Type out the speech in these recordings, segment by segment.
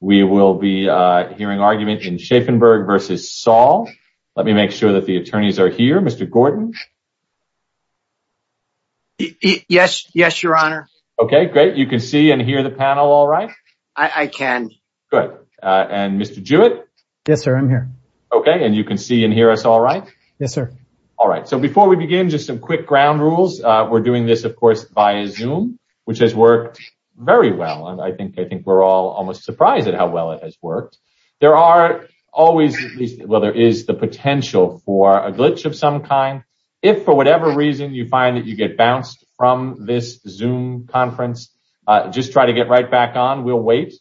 We will be hearing argument in Schafenberg v. Saul. Let me make sure that the attorneys are here. Mr. Gordon. Yes. Yes, your honor. OK, great. You can see and hear the panel. All right. I can. Good. And Mr. Jewett. Yes, sir. I'm here. OK. And you can see and hear us. All right. Yes, sir. All right. So before we begin, just some quick ground rules. We're doing this, of course, via Zoom, which has worked very well. I think I think we're all almost surprised at how well it has worked. There are always. Well, there is the potential for a glitch of some kind. If for whatever reason you find that you get bounced from this Zoom conference, just try to get right back on. We'll wait.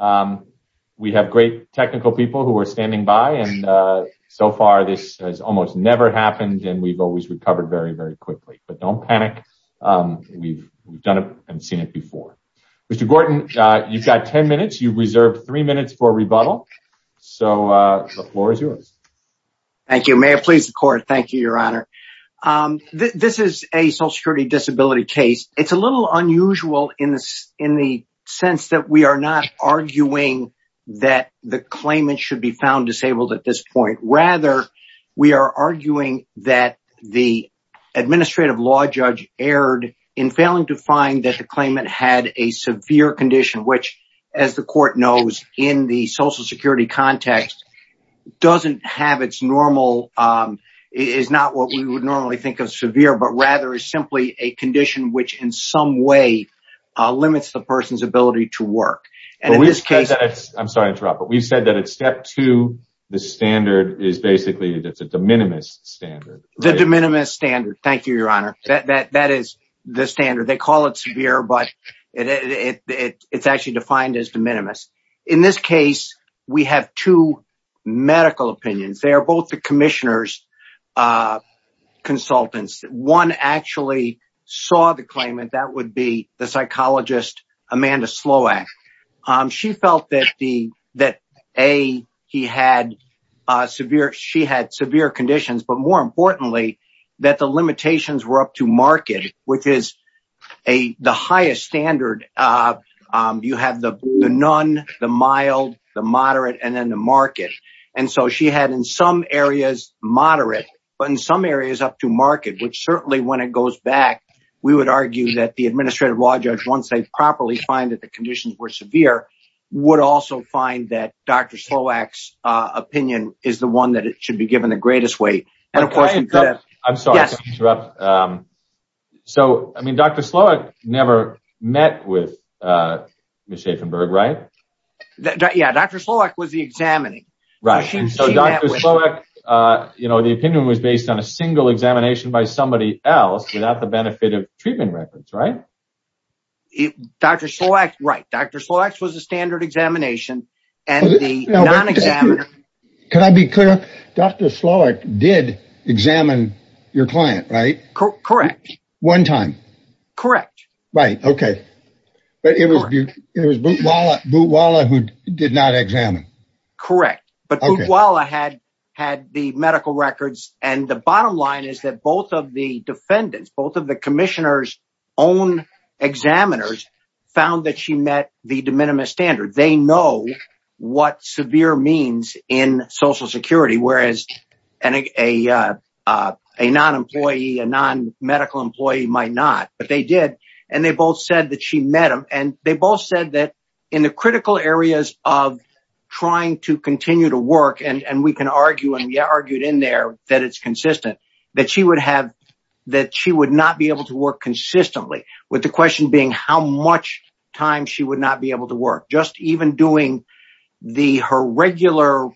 We have great technical people who are standing by. And so far, this has almost never happened. And we've always recovered very, very quickly. But don't panic. We've done it and seen it before. Mr. Gordon, you've got 10 minutes. You've reserved three minutes for a rebuttal. So the floor is yours. Thank you, Mayor. Please, the court. Thank you, your honor. This is a social security disability case. It's a little unusual in this in the sense that we are not arguing that the claimant should be found disabled at this point. Rather, we are arguing that the administrative law judge erred in failing to find that the claimant had a severe condition, which, as the court knows in the social security context, doesn't have its normal is not what we would normally think of severe, but rather is simply a condition which in some way limits the person's ability to work. And in this case, I'm sorry to interrupt, but we've said that it's step two. The standard is basically that's a de minimis standard. The de minimis standard. Thank you, your honor. That is the standard. They call it severe, but it's actually defined as de minimis. In this case, we have two medical opinions. They are both the commissioner's consultants. One actually saw the claimant. That would be the psychologist Amanda Sloack. She felt that the that a he had severe. She had severe conditions, but more importantly, that the limitations were up to market, which is a the highest standard. You have the none, the mild, the moderate and then the market. And so she had in some areas moderate, but in some areas up to market, which certainly when it goes back, we would argue that the administrative law judge, once they properly find that the conditions were severe, would also find that Dr. Sloack's opinion is the one that should be given the greatest weight. And of course, I'm sorry to interrupt. So, I mean, Dr. Sloack never met with Ms. Schaffenberg, right? Yeah. Dr. Sloack was the examining. Right. And so Dr. Sloack, you know, the opinion was based on a single examination by somebody else without the benefit of treatment records, right? Dr. Sloack. Right. Dr. Sloack was a standard examination and the non-examiner. Can I be clear? Dr. Sloack did examine your client, right? Correct. One time. Correct. Right. OK. But it was it was Bootwala who did not examine. Correct. But Bootwala had had the medical records. And the bottom line is that both of the defendants, both of the commissioner's own examiners, found that she met the de minimis standard. They know what severe means in Social Security, whereas a non-employee, a non-medical employee might not. But they did. And they both said that she met him. And they both said that in the critical areas of trying to continue to work and we can argue and we argued in there that it's consistent, that she would have that she would not be able to work consistently with the question being how much time she would not be able to work. Just even doing the her regular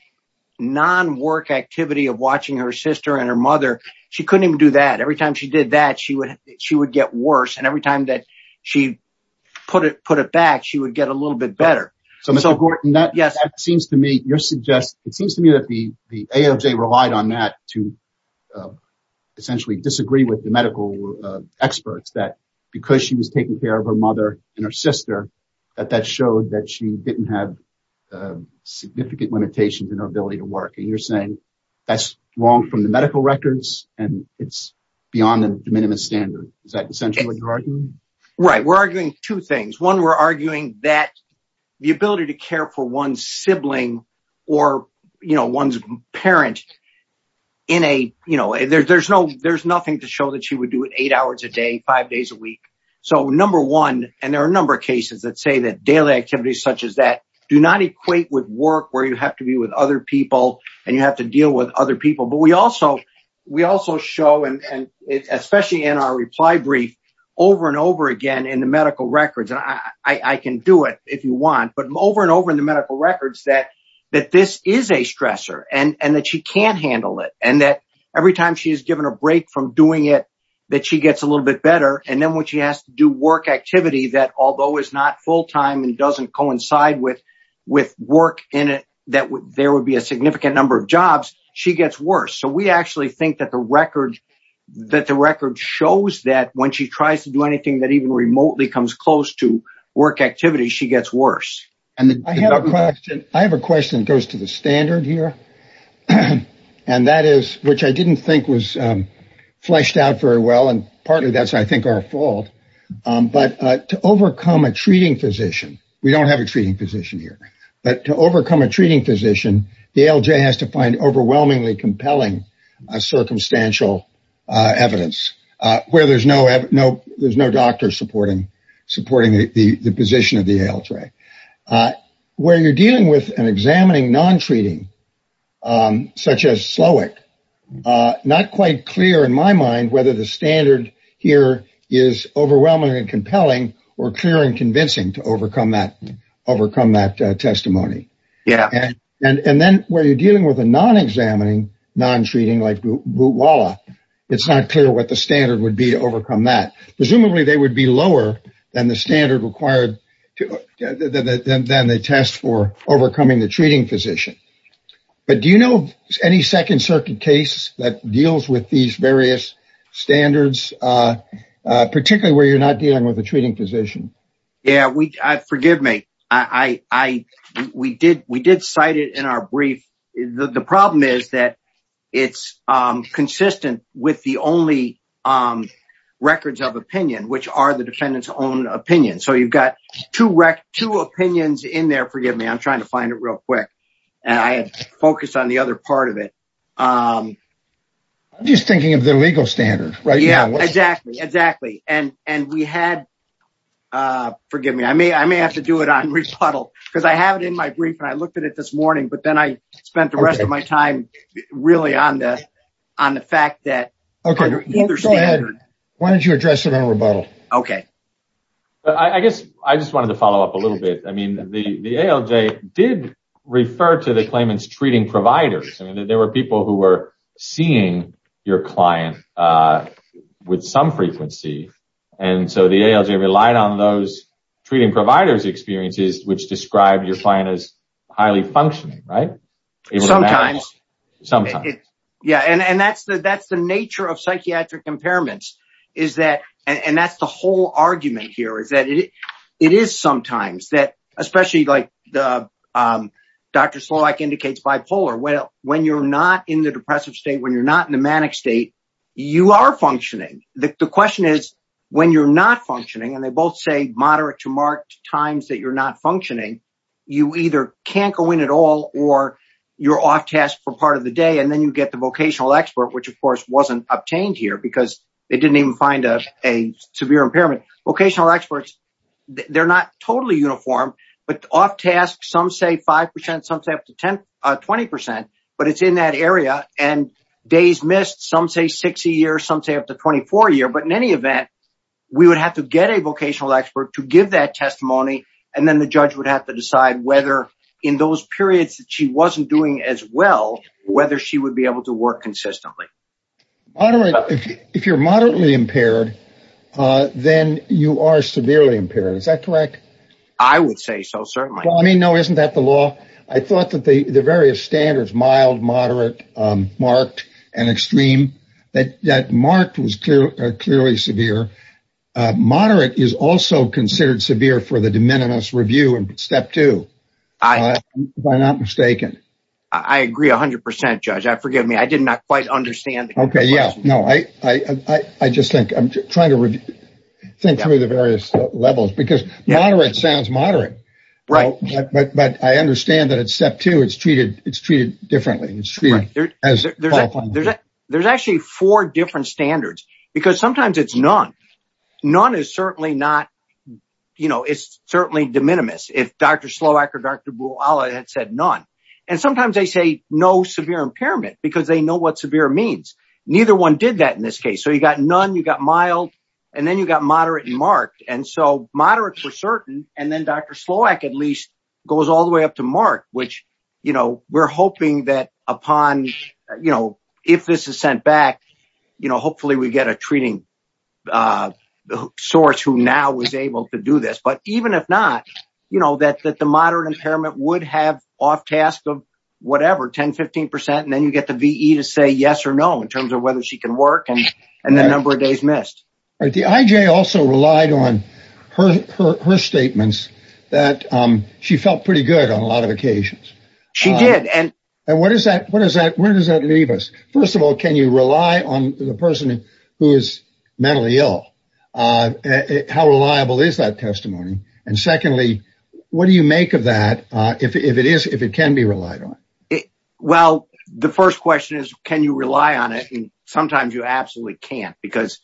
non-work activity of watching her sister and her mother. She couldn't even do that. Every time she did that, she would she would get worse. And every time that she put it, put it back, she would get a little bit better. So that seems to me you're suggest it seems to me that the AOJ relied on that to essentially disagree with the medical experts that because she was taking care of her mother and her sister, that that showed that she didn't have significant limitations in her ability to work. And you're saying that's wrong from the medical records and it's beyond the minimum standard. Is that essentially what you're arguing? Right. We're arguing two things. One, we're arguing that the ability to care for one's sibling or one's parent in a you know, there's no there's nothing to show that she would do it eight hours a day, five days a week. So, number one, and there are a number of cases that say that daily activities such as that do not equate with work where you have to be with other people and you have to deal with other people. But we also we also show and especially in our reply brief over and over again in the medical records. And I can do it if you want. But over and over in the medical records that that this is a stressor and that she can't handle it. And that every time she is given a break from doing it, that she gets a little bit better. And then when she has to do work activity that although is not full time and doesn't coincide with with work in it, that there would be a significant number of jobs. She gets worse. So we actually think that the record that the record shows that when she tries to do anything that even remotely comes close to work activity, she gets worse. And I have a question. I have a question that goes to the standard here, and that is which I didn't think was fleshed out very well. And partly that's, I think, our fault. But to overcome a treating physician, we don't have a treating physician here. But to overcome a treating physician, the LJ has to find overwhelmingly compelling circumstantial evidence where there's no no there's no doctor supporting, supporting the position of the LJ where you're dealing with and examining non-treating such as slow it. Not quite clear in my mind whether the standard here is overwhelming and compelling or clear and convincing to overcome that, overcome that testimony. Yeah. And then where you're dealing with a non-examining, non-treating like Wala, it's not clear what the standard would be to overcome that. Presumably, they would be lower than the standard required than the test for overcoming the treating physician. But do you know any Second Circuit case that deals with these various standards, particularly where you're not dealing with a treating physician? Yeah, we forgive me. I we did we did cite it in our brief. The problem is that it's consistent with the only records of opinion, which are the defendant's own opinion. So you've got to wreck two opinions in there. Forgive me. I'm trying to find it real quick. And I focus on the other part of it. I'm just thinking of the legal standard. Yeah, exactly. Exactly. And and we had forgive me. I may I may have to do it on rebuttal because I have it in my brief and I looked at it this morning. But then I spent the rest of my time really on the on the fact that. Why don't you address it on rebuttal? OK, I guess I just wanted to follow up a little bit. I mean, the ALJ did refer to the claimants treating providers. I mean, there were people who were seeing your client with some frequency. And so the ALJ relied on those treating providers experiences, which described your client as highly functioning. Right. Sometimes. Sometimes. Yeah. And that's the that's the nature of psychiatric impairments, is that. And that's the whole argument here is that it is sometimes that especially like Dr. Slovak indicates bipolar. Well, when you're not in the depressive state, when you're not in a manic state, you are functioning. The question is when you're not functioning and they both say moderate to marked times that you're not functioning. You either can't go in at all or you're off task for part of the day and then you get the vocational expert, which, of course, wasn't obtained here because they didn't even find a severe impairment. Vocational experts, they're not totally uniform, but off task. Some say 5 percent, some say up to 10, 20 percent. But it's in that area. And days missed, some say 60 years, some say up to 24 year. But in any event, we would have to get a vocational expert to give that testimony. And then the judge would have to decide whether in those periods that she wasn't doing as well, whether she would be able to work consistently. If you're moderately impaired, then you are severely impaired. Is that correct? I would say so. Certainly. I mean, no, isn't that the law? I thought that the various standards, mild, moderate, marked and extreme, that marked was clearly severe. Moderate is also considered severe for the de minimis review. And step two, I am not mistaken. I agree. A hundred percent, judge. I forgive me. I did not quite understand. OK, yeah. No, I just think I'm trying to think through the various levels because moderate sounds moderate. Right. But I understand that it's step two. It's treated. It's treated differently. There's actually four different standards because sometimes it's none. None is certainly not, you know, it's certainly de minimis. If Dr. Slovak or Dr. Buola had said none. And sometimes they say no severe impairment because they know what severe means. Neither one did that in this case. So you got none, you got mild and then you got moderate and marked. And so moderate for certain. And then Dr. Slovak at least goes all the way up to mark, which, you know, we're hoping that upon, you know, if this is sent back, you know, hopefully we get a treating source who now was able to do this. But even if not, you know, that that the moderate impairment would have off task of whatever, 10, 15 percent. And then you get the VE to say yes or no in terms of whether she can work. And the number of days missed the IJ also relied on her, her, her statements that she felt pretty good on a lot of occasions. She did. And what is that? What is that? Where does that leave us? First of all, can you rely on the person who is mentally ill? How reliable is that testimony? And secondly, what do you make of that? If it is, if it can be relied on. Well, the first question is, can you rely on it? And sometimes you absolutely can't because,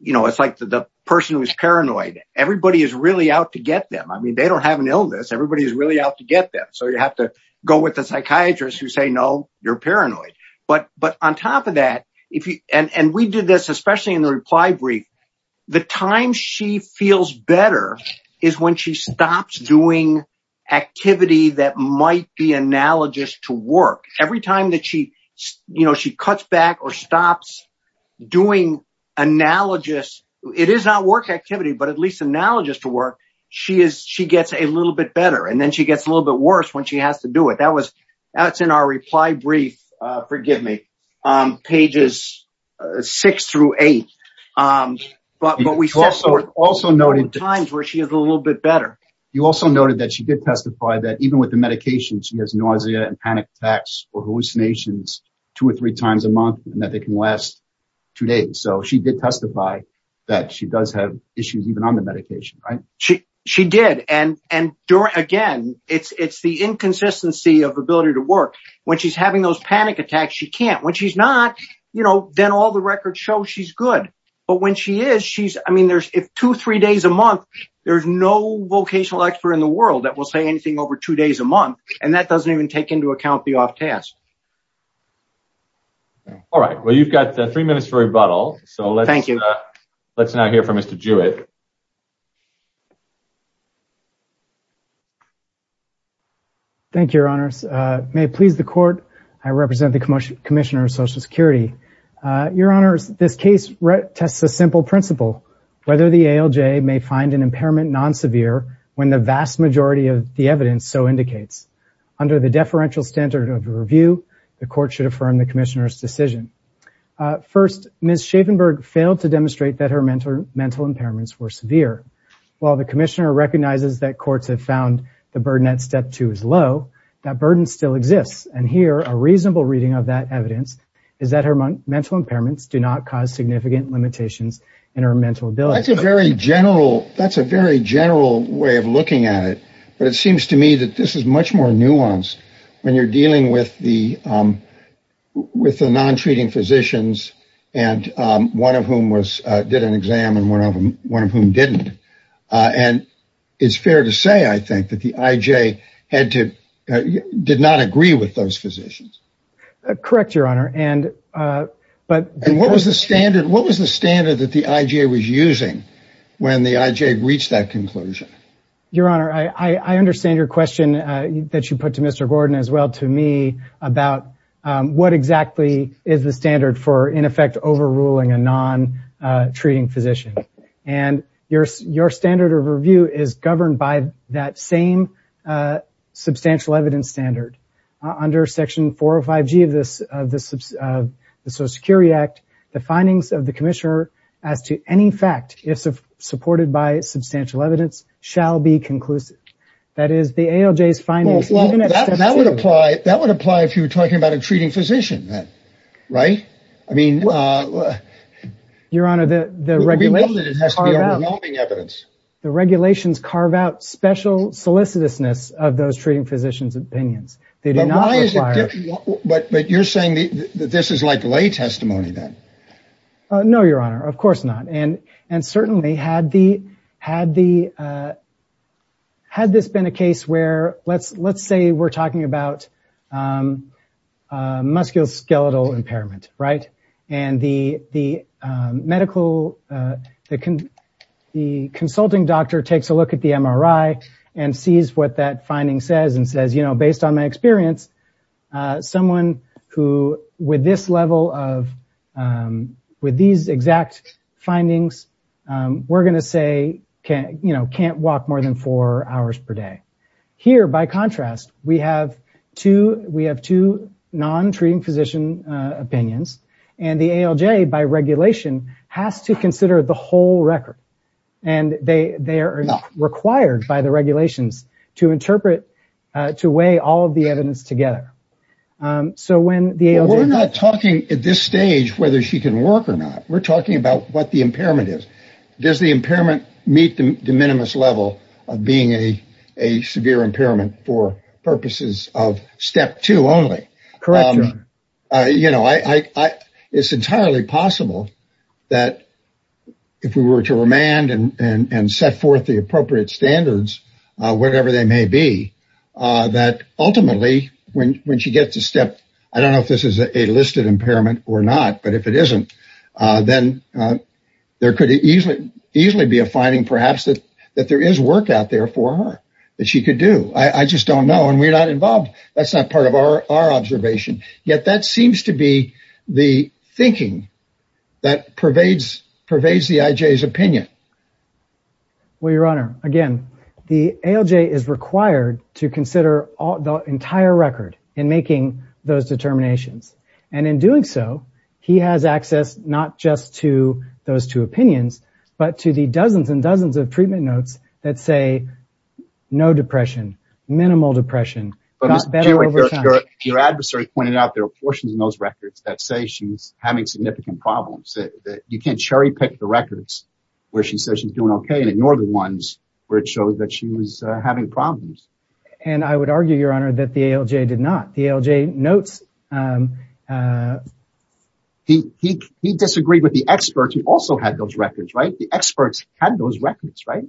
you know, it's like the person who is paranoid. Everybody is really out to get them. I mean, they don't have an illness. Everybody is really out to get them. So you have to go with the psychiatrist who say, no, you're paranoid. But but on top of that, if you and we did this, especially in the reply brief, the time she feels better is when she stops doing activity that might be analogous to work. Every time that she, you know, she cuts back or stops doing analogous. It is not work activity, but at least analogous to work. She is. She gets a little bit better and then she gets a little bit worse when she has to do it. That was that's in our reply brief. Forgive me. Pages six through eight. But we also also noted times where she is a little bit better. You also noted that she did testify that even with the medications, she has nausea and panic attacks or hallucinations two or three times a month and that they can last two days. So she did testify that she does have issues even on the medication. She she did. And and again, it's it's the inconsistency of ability to work when she's having those panic attacks. She can't when she's not, you know, then all the records show she's good. But when she is, she's I mean, there's two, three days a month. There's no vocational expert in the world that will say anything over two days a month. And that doesn't even take into account the off task. All right. Well, you've got three minutes for rebuttal. So let's thank you. Let's not hear from Mr. Jewett. Thank you, your honors. May it please the court. I represent the commission commissioner of Social Security. Your honors, this case tests a simple principle. Whether the ALJ may find an impairment non-severe when the vast majority of the evidence so indicates. Under the deferential standard of review, the court should affirm the commissioner's decision. First, Ms. Schaffenberg failed to demonstrate that her mental mental impairments were severe. While the commissioner recognizes that courts have found the burden at step two is low, that burden still exists. And here a reasonable reading of that evidence is that her mental impairments do not cause significant limitations in her mental ability. That's a very general that's a very general way of looking at it. But it seems to me that this is much more nuanced when you're dealing with the with the non treating physicians. And one of whom was did an exam and one of them, one of whom didn't. And it's fair to say, I think, that the IJ had to did not agree with those physicians. Correct, your honor. And but what was the standard? What was the standard that the IJ was using when the IJ reached that conclusion? Your honor, I understand your question that you put to Mr. Gordon as well to me about what exactly is the standard for, in effect, overruling a non treating physician. And your your standard of review is governed by that same substantial evidence standard under Section four or five G of this of the Social Security Act. The findings of the commissioner as to any fact is supported by substantial evidence shall be conclusive. That is the ALJ's findings. That would apply. That would apply if you were talking about a treating physician. Right. I mean, your honor, the regulations carve out the regulations, carve out special solicitousness of those treating physicians opinions. They do not. But you're saying that this is like lay testimony then. No, your honor. Of course not. And and certainly had the had the. Had this been a case where let's let's say we're talking about musculoskeletal impairment. Right. And the the medical the the consulting doctor takes a look at the MRI and sees what that finding says and says, you know, based on my experience, someone who with this level of with these exact findings, we're going to say, you know, can't walk more than four hours per day here. By contrast, we have to we have to non treating physician opinions and the ALJ by regulation has to consider the whole record. And they they are not required by the regulations to interpret, to weigh all of the evidence together. So when the we're not talking at this stage whether she can work or not, we're talking about what the impairment is. Does the impairment meet the de minimis level of being a a severe impairment for purposes of step two only? Correct. You know, I it's entirely possible that if we were to remand and set forth the appropriate standards, whatever they may be, that ultimately when when she gets a step, I don't know if this is a listed impairment or not, but if it isn't, then there could easily easily be a finding perhaps that that there is work out there for her that she could do. I just don't know. And we're not involved. That's not part of our observation. Yet that seems to be the thinking that pervades pervades the IJ's opinion. Well, your honor, again, the ALJ is required to consider the entire record in making those determinations. And in doing so, he has access not just to those two opinions, but to the dozens and dozens of treatment notes that say no depression, minimal depression. But your adversary pointed out there are portions in those records that say she's having significant problems. You can't cherry pick the records where she says she's doing OK and ignore the ones where it shows that she was having problems. And I would argue, your honor, that the ALJ did not. The ALJ notes. He he he disagreed with the experts who also had those records, right? The experts had those records, right?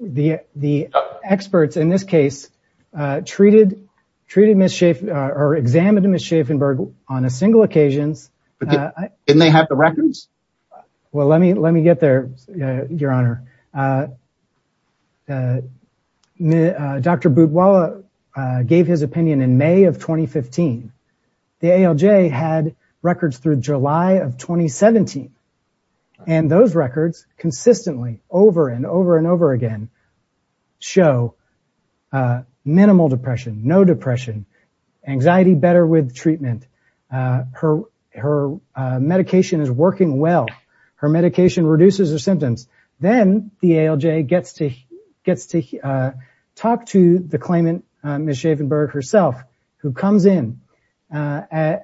The the experts in this case treated, treated, mischief or examined him as Schaffenberg on a single occasions. And they have the records. Well, let me let me get there, your honor. The Dr. Budwala gave his opinion in May of 2015. The ALJ had records through July of 2017. And those records consistently over and over and over again show minimal depression, no depression, anxiety, better with treatment. Her her medication is working well. Her medication reduces her symptoms. Then the ALJ gets to gets to talk to the claimant, Ms. Schaffenberg herself, who comes in and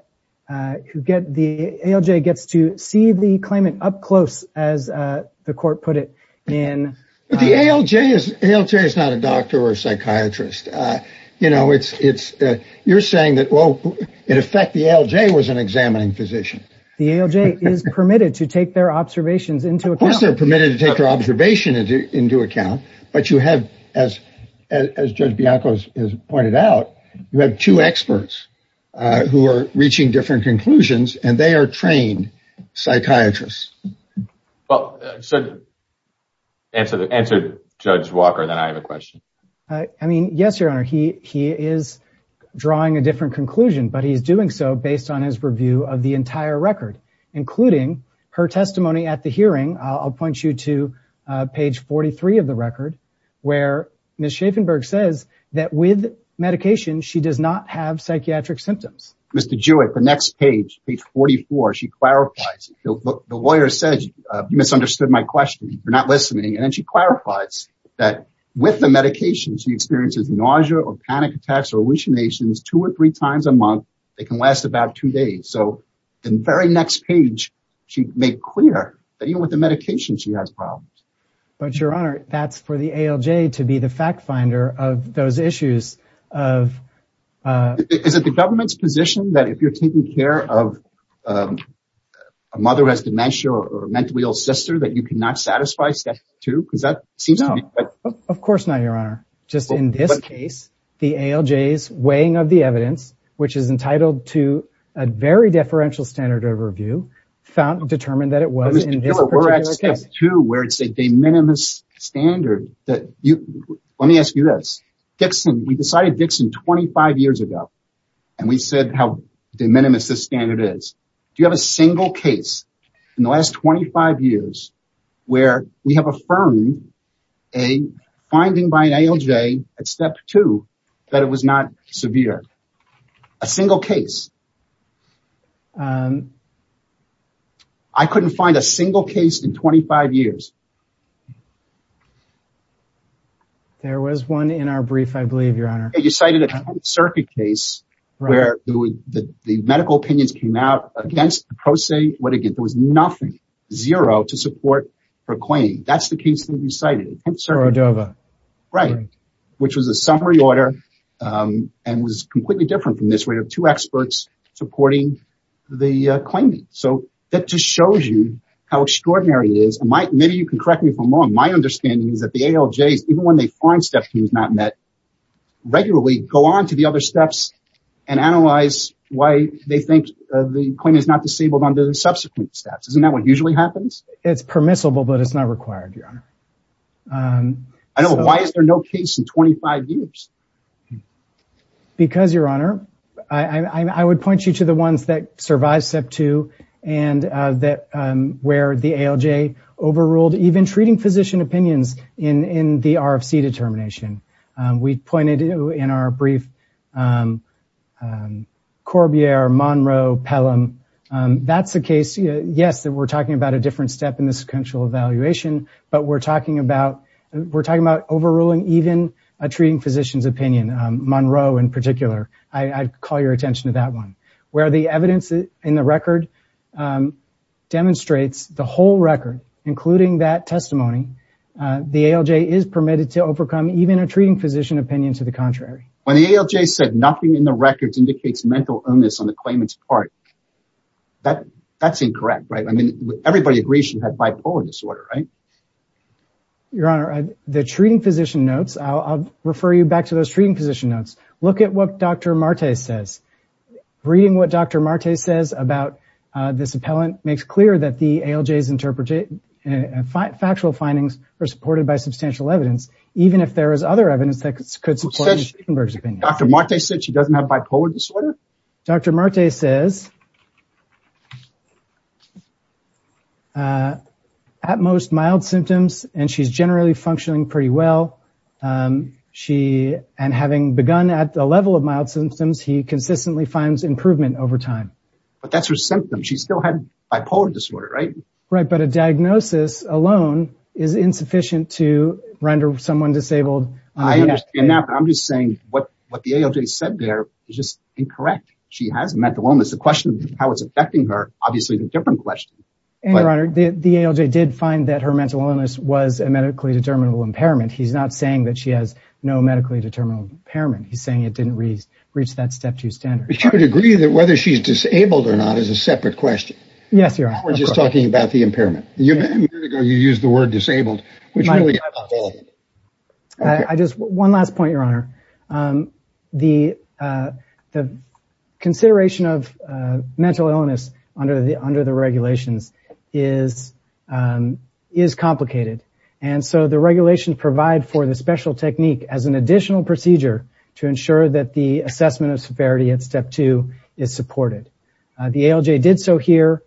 who get the ALJ, gets to see the claimant up close, as the court put it in. But the ALJ is not a doctor or psychiatrist. You know, it's it's you're saying that, well, in effect, the ALJ was an examining physician. The ALJ is permitted to take their observations into. Of course, they're permitted to take their observation into account. But you have, as as Judge Bianco has pointed out, you have two experts who are reaching different conclusions and they are trained psychiatrists. Well, so. Answer the answer, Judge Walker, then I have a question. I mean, yes, your honor, he he is drawing a different conclusion, but he's doing so based on his review of the entire record, including her testimony at the hearing. I'll point you to page 43 of the record where Ms. Schaffenberg says that with medication, she does not have psychiatric symptoms. Mr. Jewett, the next page, page 44, she clarifies. The lawyer says you misunderstood my question. You're not listening. And she clarifies that with the medication she experiences nausea or panic attacks or hallucinations two or three times a month. They can last about two days. So in the very next page, she made clear that even with the medication, she has problems. But your honor, that's for the ALJ to be the fact finder of those issues of. Is it the government's position that if you're taking care of a mother who has dementia or mentally ill sister that you cannot satisfy step two? Because that seems to me. Of course not, your honor. Just in this case, the ALJ is weighing of the evidence, which is entitled to a very deferential standard overview found determined that it was. To where it's a de minimis standard that you let me ask you this. Dixon, we decided Dixon 25 years ago and we said how de minimis this standard is. Do you have a single case in the last 25 years where we have affirmed a finding by an ALJ at step two that it was not severe? A single case. I couldn't find a single case in 25 years. There was one in our brief, I believe, your honor. You cited a circuit case where the medical opinions came out against the prosaic. What again? There was nothing zero to support for Queen. That's the case that you cited. Right. Which was a summary order and was completely different from this. We have two experts supporting the claimant. So that just shows you how extraordinary it is. Maybe you can correct me if I'm wrong. My understanding is that the ALJs, even when they find step two is not met, regularly go on to the other steps and analyze why they think the claimant is not disabled under the subsequent steps. Isn't that what usually happens? It's permissible, but it's not required, your honor. I don't know. Why is there no case in 25 years? Because, your honor, I would point you to the ones that survive step two and that where the ALJ overruled even treating physician opinions in the RFC determination. We pointed to, in our brief, Corbiere, Monroe, Pelham. That's the case. Yes, we're talking about a different step in the sequential evaluation, but we're talking about overruling even a treating physician's opinion, Monroe in particular. I'd call your attention to that one. Where the evidence in the record demonstrates the whole record, including that testimony, the ALJ is permitted to overcome even a treating physician opinion to the contrary. When the ALJ said nothing in the records indicates mental illness on the claimant's part, that's incorrect, right? I mean, everybody agrees she had bipolar disorder, right? Your honor, the treating physician notes, I'll refer you back to those treating physician notes. Look at what Dr. Marte says. Reading what Dr. Marte says about this appellant makes clear that the ALJ's factual findings are supported by substantial evidence, even if there is other evidence that could support the treating physician's opinion. Dr. Marte said she doesn't have bipolar disorder? Dr. Marte says at most mild symptoms and she's generally functioning pretty well. And having begun at the level of mild symptoms, he consistently finds improvement over time. But that's her symptom. She still had bipolar disorder, right? Right, but a diagnosis alone is insufficient to render someone disabled. I understand that, but I'm just saying what the ALJ said there is just incorrect. She has mental illness. The question of how it's affecting her is obviously a different question. Your honor, the ALJ did find that her mental illness was a medically determinable impairment. He's not saying that she has no medically determinable impairment. He's saying it didn't reach that step two standard. But you would agree that whether she's disabled or not is a separate question? Yes, your honor. We're just talking about the impairment. A minute ago, you used the word disabled, which really is invalid. One last point, your honor. The consideration of mental illness under the regulations is complicated. And so the regulations provide for the special technique as an additional procedure to ensure that the assessment of severity at step two is supported. The ALJ did so here,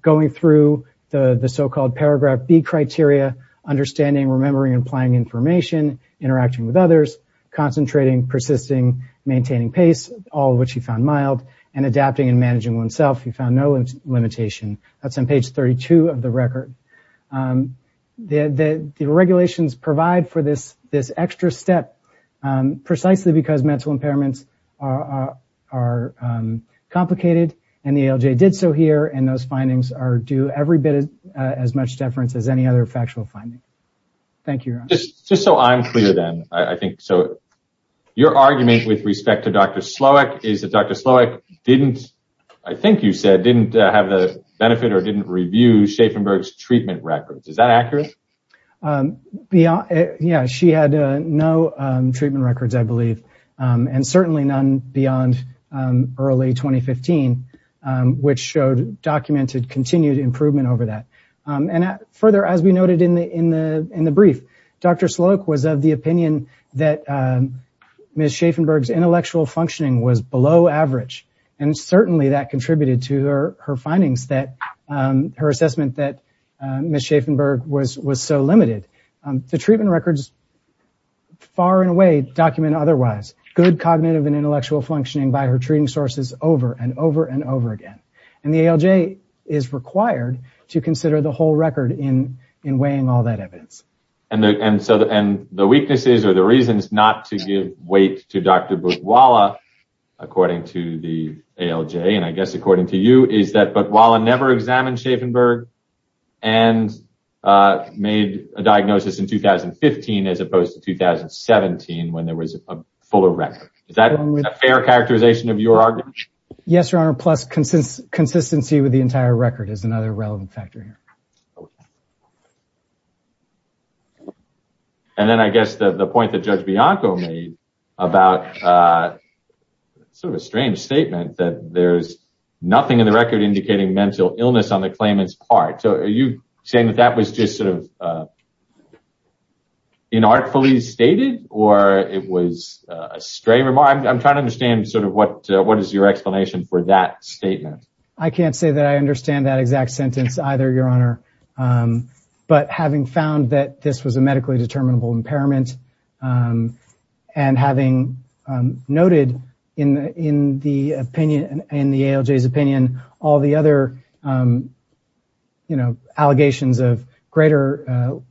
going through the so-called paragraph B criteria, understanding, remembering, and applying information, interacting with others, concentrating, persisting, maintaining pace, all of which he found mild, and adapting and managing oneself, he found no limitation. That's on page 32 of the record. The regulations provide for this extra step precisely because mental impairments are complicated. And the ALJ did so here. And those findings are due every bit as much deference as any other factual finding. Thank you, your honor. Just so I'm clear, then, I think so. Your argument with respect to Dr. Slowick is that Dr. Slowick didn't, I think you said, didn't have the benefit or didn't review Schaffenberg's treatment records. Is that accurate? Yeah, she had no treatment records, I believe, and certainly none beyond early 2015. Which showed, documented, continued improvement over that. And further, as we noted in the brief, Dr. Slowick was of the opinion that Ms. Schaffenberg's intellectual functioning was below average, and certainly that contributed to her findings, her assessment that Ms. Schaffenberg was so limited. The treatment records, far and away, document otherwise. Good cognitive and intellectual functioning by her treating sources over and over and over again. And the ALJ is required to consider the whole record in weighing all that evidence. And the weaknesses or the reasons not to give weight to Dr. Bukwala, according to the ALJ, and I guess according to you, is that Bukwala never examined Schaffenberg and made a diagnosis in 2015 as opposed to 2017 when there was a fuller record. Is that a fair characterization of your argument? Yes, Your Honor, plus consistency with the entire record is another relevant factor here. And then I guess the point that Judge Bianco made about, sort of a strange statement, that there's nothing in the record indicating mental illness on the claimant's part. So are you saying that that was just sort of inartfully stated or it was a stray remark? I'm trying to understand sort of what is your explanation for that statement. I can't say that I understand that exact sentence either, Your Honor. But having found that this was a medically determinable impairment and having noted in the ALJ's opinion all the other allegations of greater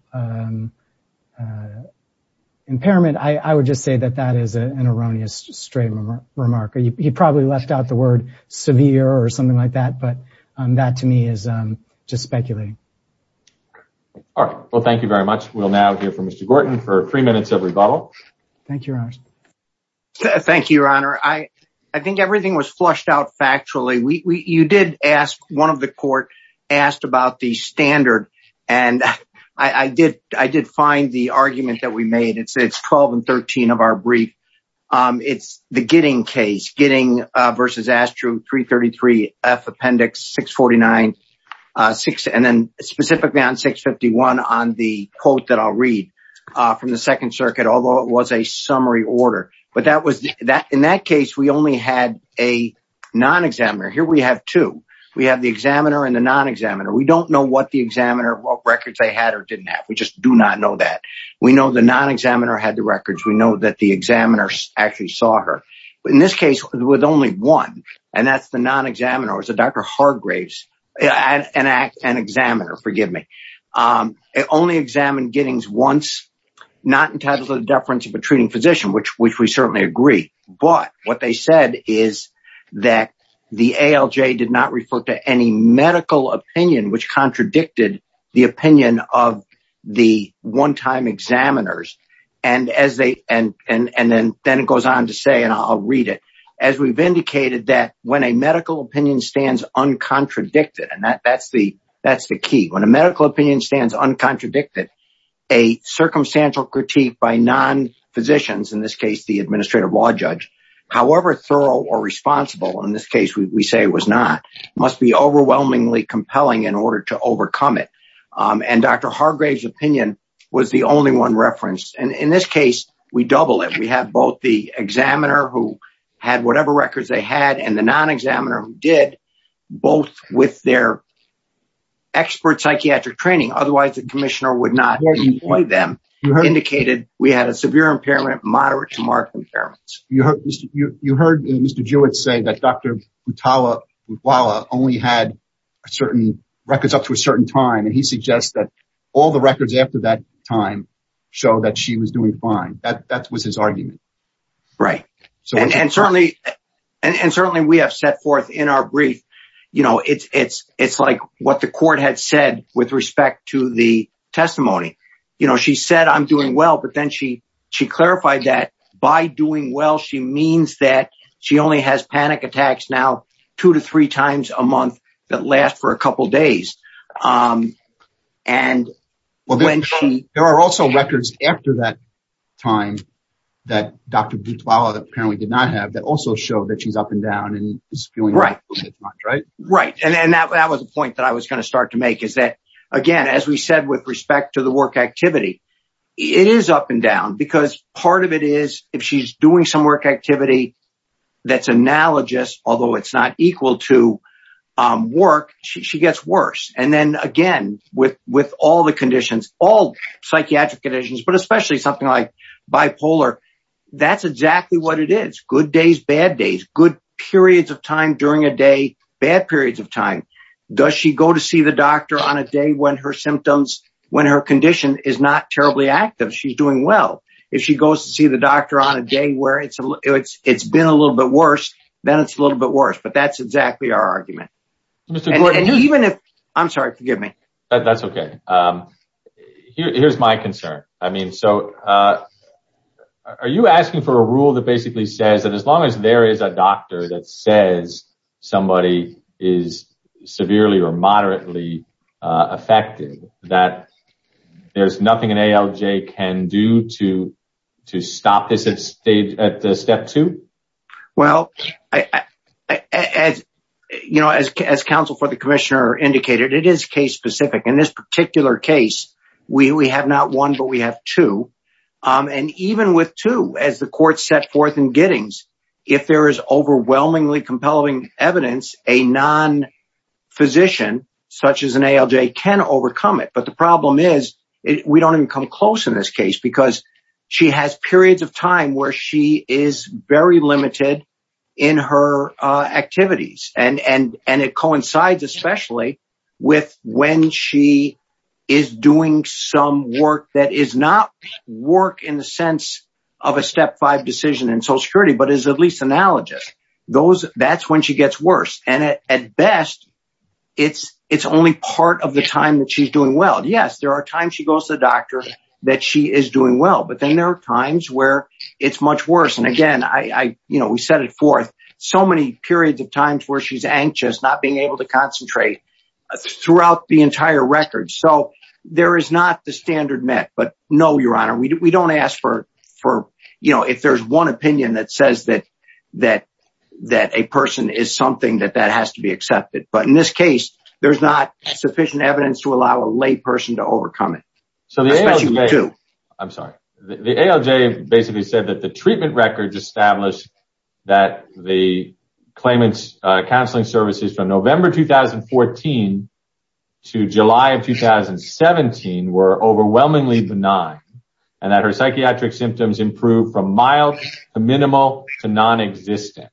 impairment, I would just say that that is an erroneous stray remark. He probably left out the word severe or something like that, but that to me is just speculating. All right. Well, thank you very much. We'll now hear from Mr. Gorton for three minutes of rebuttal. Thank you, Your Honor. Thank you, Your Honor. I think everything was flushed out factually. You did ask one of the court asked about the standard. And I did. I did find the argument that we made. It's 12 and 13 of our brief. It's the getting case. Getting versus Astro 333 F Appendix 649. Six and then specifically on 651 on the quote that I'll read from the Second Circuit, although it was a summary order. But that was that in that case, we only had a non examiner. Here we have two. We have the examiner and the non examiner. We don't know what the examiner records they had or didn't have. We just do not know that. We know the non examiner had the records. We know that the examiners actually saw her in this case with only one. And that's the non examiners. Dr. Hargraves and an examiner. Forgive me. It only examined gettings once, not in terms of the deference of a treating physician, which we certainly agree. But what they said is that the ALJ did not refer to any medical opinion, which contradicted the opinion of the one time examiners. And as they and and then then it goes on to say, and I'll read it as we've indicated that when a medical opinion stands uncontradicted and that that's the that's the key. When a medical opinion stands uncontradicted, a circumstantial critique by non physicians, in this case, the administrative law judge. However, thorough or responsible in this case, we say was not must be overwhelmingly compelling in order to overcome it. And Dr. Hargraves opinion was the only one reference. And in this case, we double it. We have both the examiner who had whatever records they had and the non examiner who did both with their. Expert psychiatric training, otherwise the commissioner would not want them indicated we had a severe impairment, moderate to moderate impairments. You heard you heard Mr. Jewett say that Dr. Tala only had certain records up to a certain time. And he suggests that all the records after that time show that she was doing fine. That that was his argument. Right. So and certainly and certainly we have set forth in our brief, you know, it's it's it's like what the court had said with respect to the testimony. You know, she said, I'm doing well. But then she she clarified that by doing well, she means that she only has panic attacks. Now, two to three times a month that last for a couple of days. And when she there are also records after that time that Dr. Butler apparently did not have that also show that she's up and down and right. Right. And that was a point that I was going to start to make is that, again, as we said, with respect to the work activity, it is up and down because part of it is if she's doing some work activity that's analogous, although it's not equal to work, she gets worse. And then again, with with all the conditions, all psychiatric conditions, but especially something like bipolar, that's exactly what it is. Good days, bad days, good periods of time during a day, bad periods of time. Does she go to see the doctor on a day when her symptoms when her condition is not terribly active? She's doing well. If she goes to see the doctor on a day where it's it's it's been a little bit worse, then it's a little bit worse. But that's exactly our argument. And even if I'm sorry, forgive me. That's OK. Here's my concern. I mean, so are you asking for a rule that basically says that as long as there is a doctor that says somebody is severely or moderately affected, that there's nothing an ALJ can do to to stop this at the step two? Well, as you know, as as counsel for the commissioner indicated, it is case specific. In this particular case, we have not one, but we have two. And even with two, as the court set forth in Giddings, if there is overwhelmingly compelling evidence, a non physician such as an ALJ can overcome it. But the problem is we don't even come close in this case because she has periods of time where she is very limited in her activities. And and and it coincides especially with when she is doing some work that is not work in the sense of a step five decision in social security, but is at least analogous. That's when she gets worse. And at best, it's it's only part of the time that she's doing well. Yes, there are times she goes to the doctor that she is doing well, but then there are times where it's much worse. And again, I you know, we set it forth so many periods of times where she's anxious, not being able to concentrate throughout the entire record. So there is not the standard met. But no, your honor, we don't ask for for, you know, if there's one opinion that says that that that a person is something that that has to be accepted. But in this case, there's not sufficient evidence to allow a lay person to overcome it. I'm sorry. The ALJ basically said that the treatment records established that the claimants counseling services from November 2014 to July of 2017 were overwhelmingly benign and that her psychiatric symptoms improved from mild to minimal to non-existent.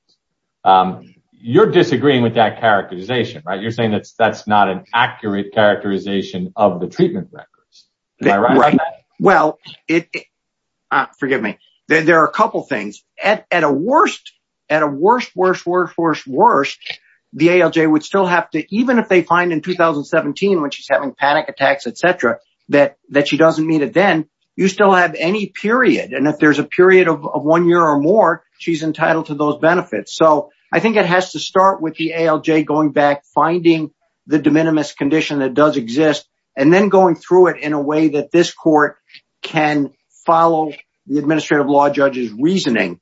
You're disagreeing with that characterization, right? You're saying that that's not an accurate characterization of the treatment records. Right. Well, it forgive me. There are a couple of things at a worst at a worse, worse, worse, worse, worse. The ALJ would still have to even if they find in 2017 when she's having panic attacks, et cetera, that that she doesn't need it, then you still have any period. And if there's a period of one year or more, she's entitled to those benefits. So I think it has to start with the ALJ going back, finding the de minimis condition that does exist and then going through it in a way that this court can follow the administrative law judge's reasoning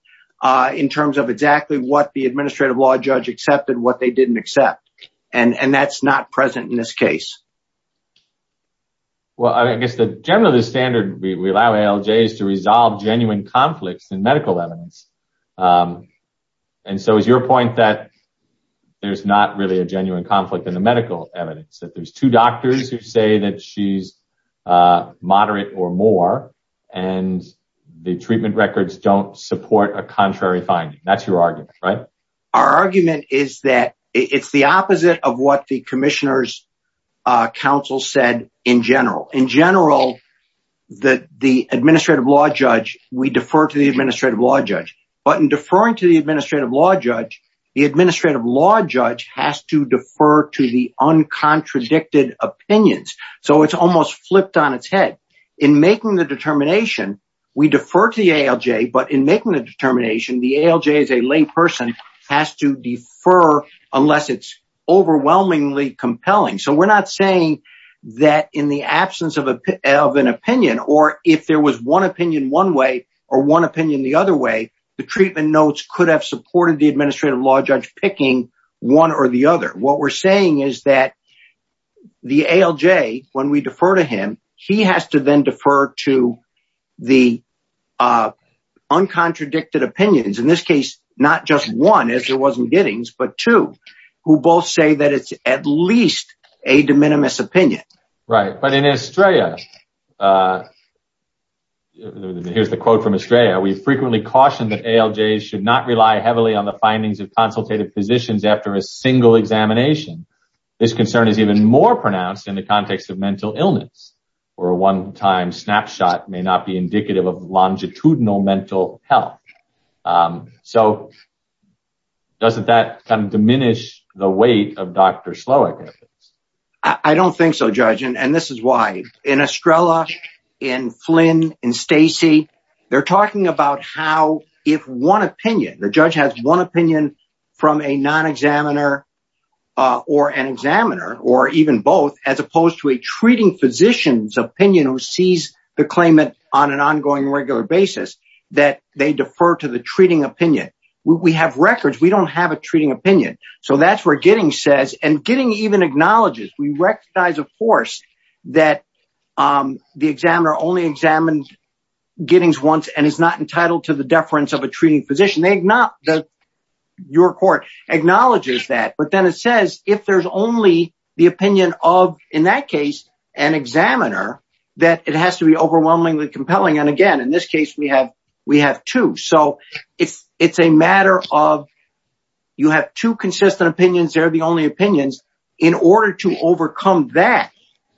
in terms of exactly what the administrative law judge accepted. What they didn't accept. And that's not present in this case. Well, I guess the general standard we allow ALJs to resolve genuine conflicts and medical evidence. And so is your point that there's not really a genuine conflict in the medical evidence that there's two doctors who say that she's moderate or more and the treatment records don't support a contrary finding? That's your argument, right? Our argument is that it's the opposite of what the commissioners council said in general. In general, that the administrative law judge, we defer to the administrative law judge. But in deferring to the administrative law judge, the administrative law judge has to defer to the uncontradicted opinions. So it's almost flipped on its head in making the determination. We defer to the ALJ. But in making the determination, the ALJ is a lay person has to defer unless it's overwhelmingly compelling. So we're not saying that in the absence of an opinion or if there was one opinion one way or one opinion the other way, the treatment notes could have supported the administrative law judge picking one or the other. What we're saying is that the ALJ, when we defer to him, he has to then defer to the uncontradicted opinions. In this case, not just one as there wasn't gettings, but two who both say that it's at least a de minimis opinion. Right. But in Australia, here's the quote from Australia. We frequently caution that ALJ should not rely heavily on the findings of consultative positions after a single examination. This concern is even more pronounced in the context of mental illness or a one time snapshot may not be indicative of longitudinal mental health. So. Doesn't that diminish the weight of Dr. I don't think so, judge. And this is why in Estrella, in Flynn and Stacey, they're talking about how if one opinion, the judge has one opinion from a non examiner or an examiner or even both, as opposed to a treating physician's opinion who sees the claimant on an ongoing regular basis that they defer to the treating opinion. We have records. We don't have a treating opinion. So that's where getting says and getting even acknowledges. We recognize, of course, that the examiner only examined gettings once and is not entitled to the deference of a treating physician. They not that your court acknowledges that. But then it says if there's only the opinion of, in that case, an examiner, that it has to be overwhelmingly compelling. And again, in this case, we have we have two. So it's it's a matter of you have two consistent opinions. They're the only opinions in order to overcome that.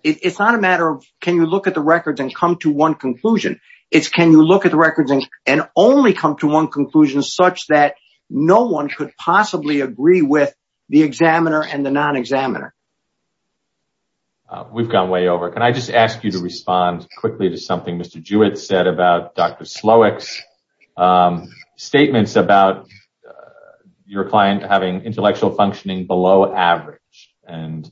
It's not a matter of can you look at the records and come to one conclusion? It's can you look at the records and only come to one conclusion such that no one could possibly agree with the examiner and the non examiner? We've gone way over. Can I just ask you to respond quickly to something? Mr. Jewett said about Dr. Slowak's statements about your client having intellectual functioning below average and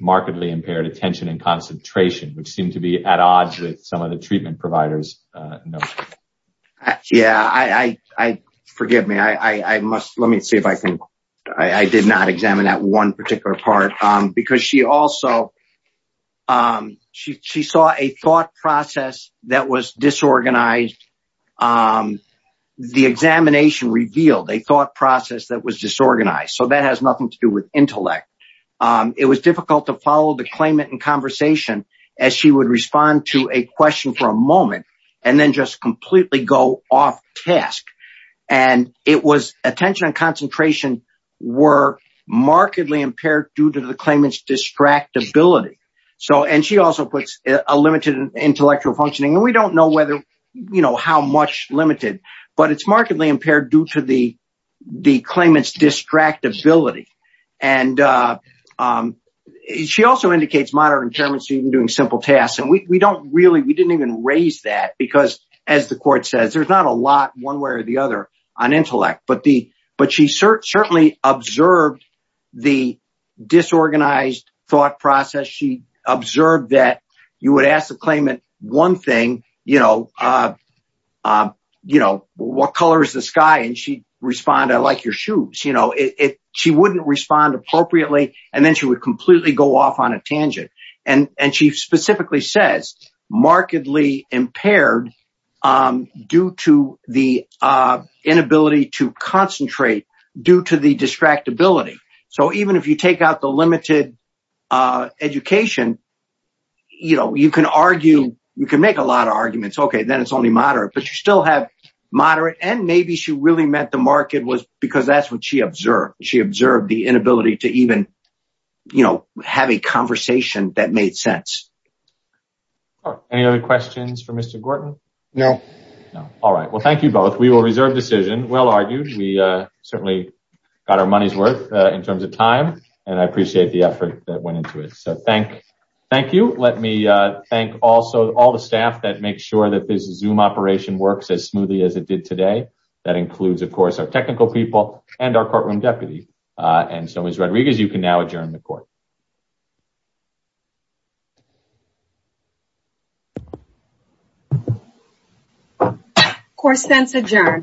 markedly impaired attention and concentration, which seemed to be at odds with some of the treatment providers. Yeah, I forgive me. I must let me see if I can. I did not examine that one particular part because she also she saw a thought process that was disorganized. The examination revealed a thought process that was disorganized. So that has nothing to do with intellect. It was difficult to follow the claimant in conversation as she would respond to a question for a moment and then just completely go off task. And it was attention and concentration were markedly impaired due to the claimant's distract ability. So and she also puts a limited intellectual functioning. We don't know whether you know how much limited, but it's markedly impaired due to the the claimant's distract ability. And she also indicates moderate intermittent doing simple tasks. And we don't really we didn't even raise that because, as the court says, there's not a lot one way or the other on intellect. But the but she certainly observed the disorganized thought process. She observed that you would ask the claimant one thing, you know, you know, what color is the sky? And she respond, I like your shoes. You know, if she wouldn't respond appropriately and then she would completely go off on a tangent. And she specifically says markedly impaired due to the inability to concentrate due to the distract ability. So even if you take out the limited education, you know, you can argue you can make a lot of arguments. OK, then it's only moderate, but you still have moderate. And maybe she really meant the market was because that's what she observed. She observed the inability to even, you know, have a conversation that made sense. Any other questions for Mr. Gorton? No. All right. Well, thank you both. We will reserve decision. Well argued. We certainly got our money's worth in terms of time and I appreciate the effort that went into it. So thank thank you. Let me thank also all the staff that make sure that this zoom operation works as smoothly as it did today. That includes, of course, our technical people and our courtroom deputy. And so is Rodriguez. You can now adjourn the court. Course, that's adjourned.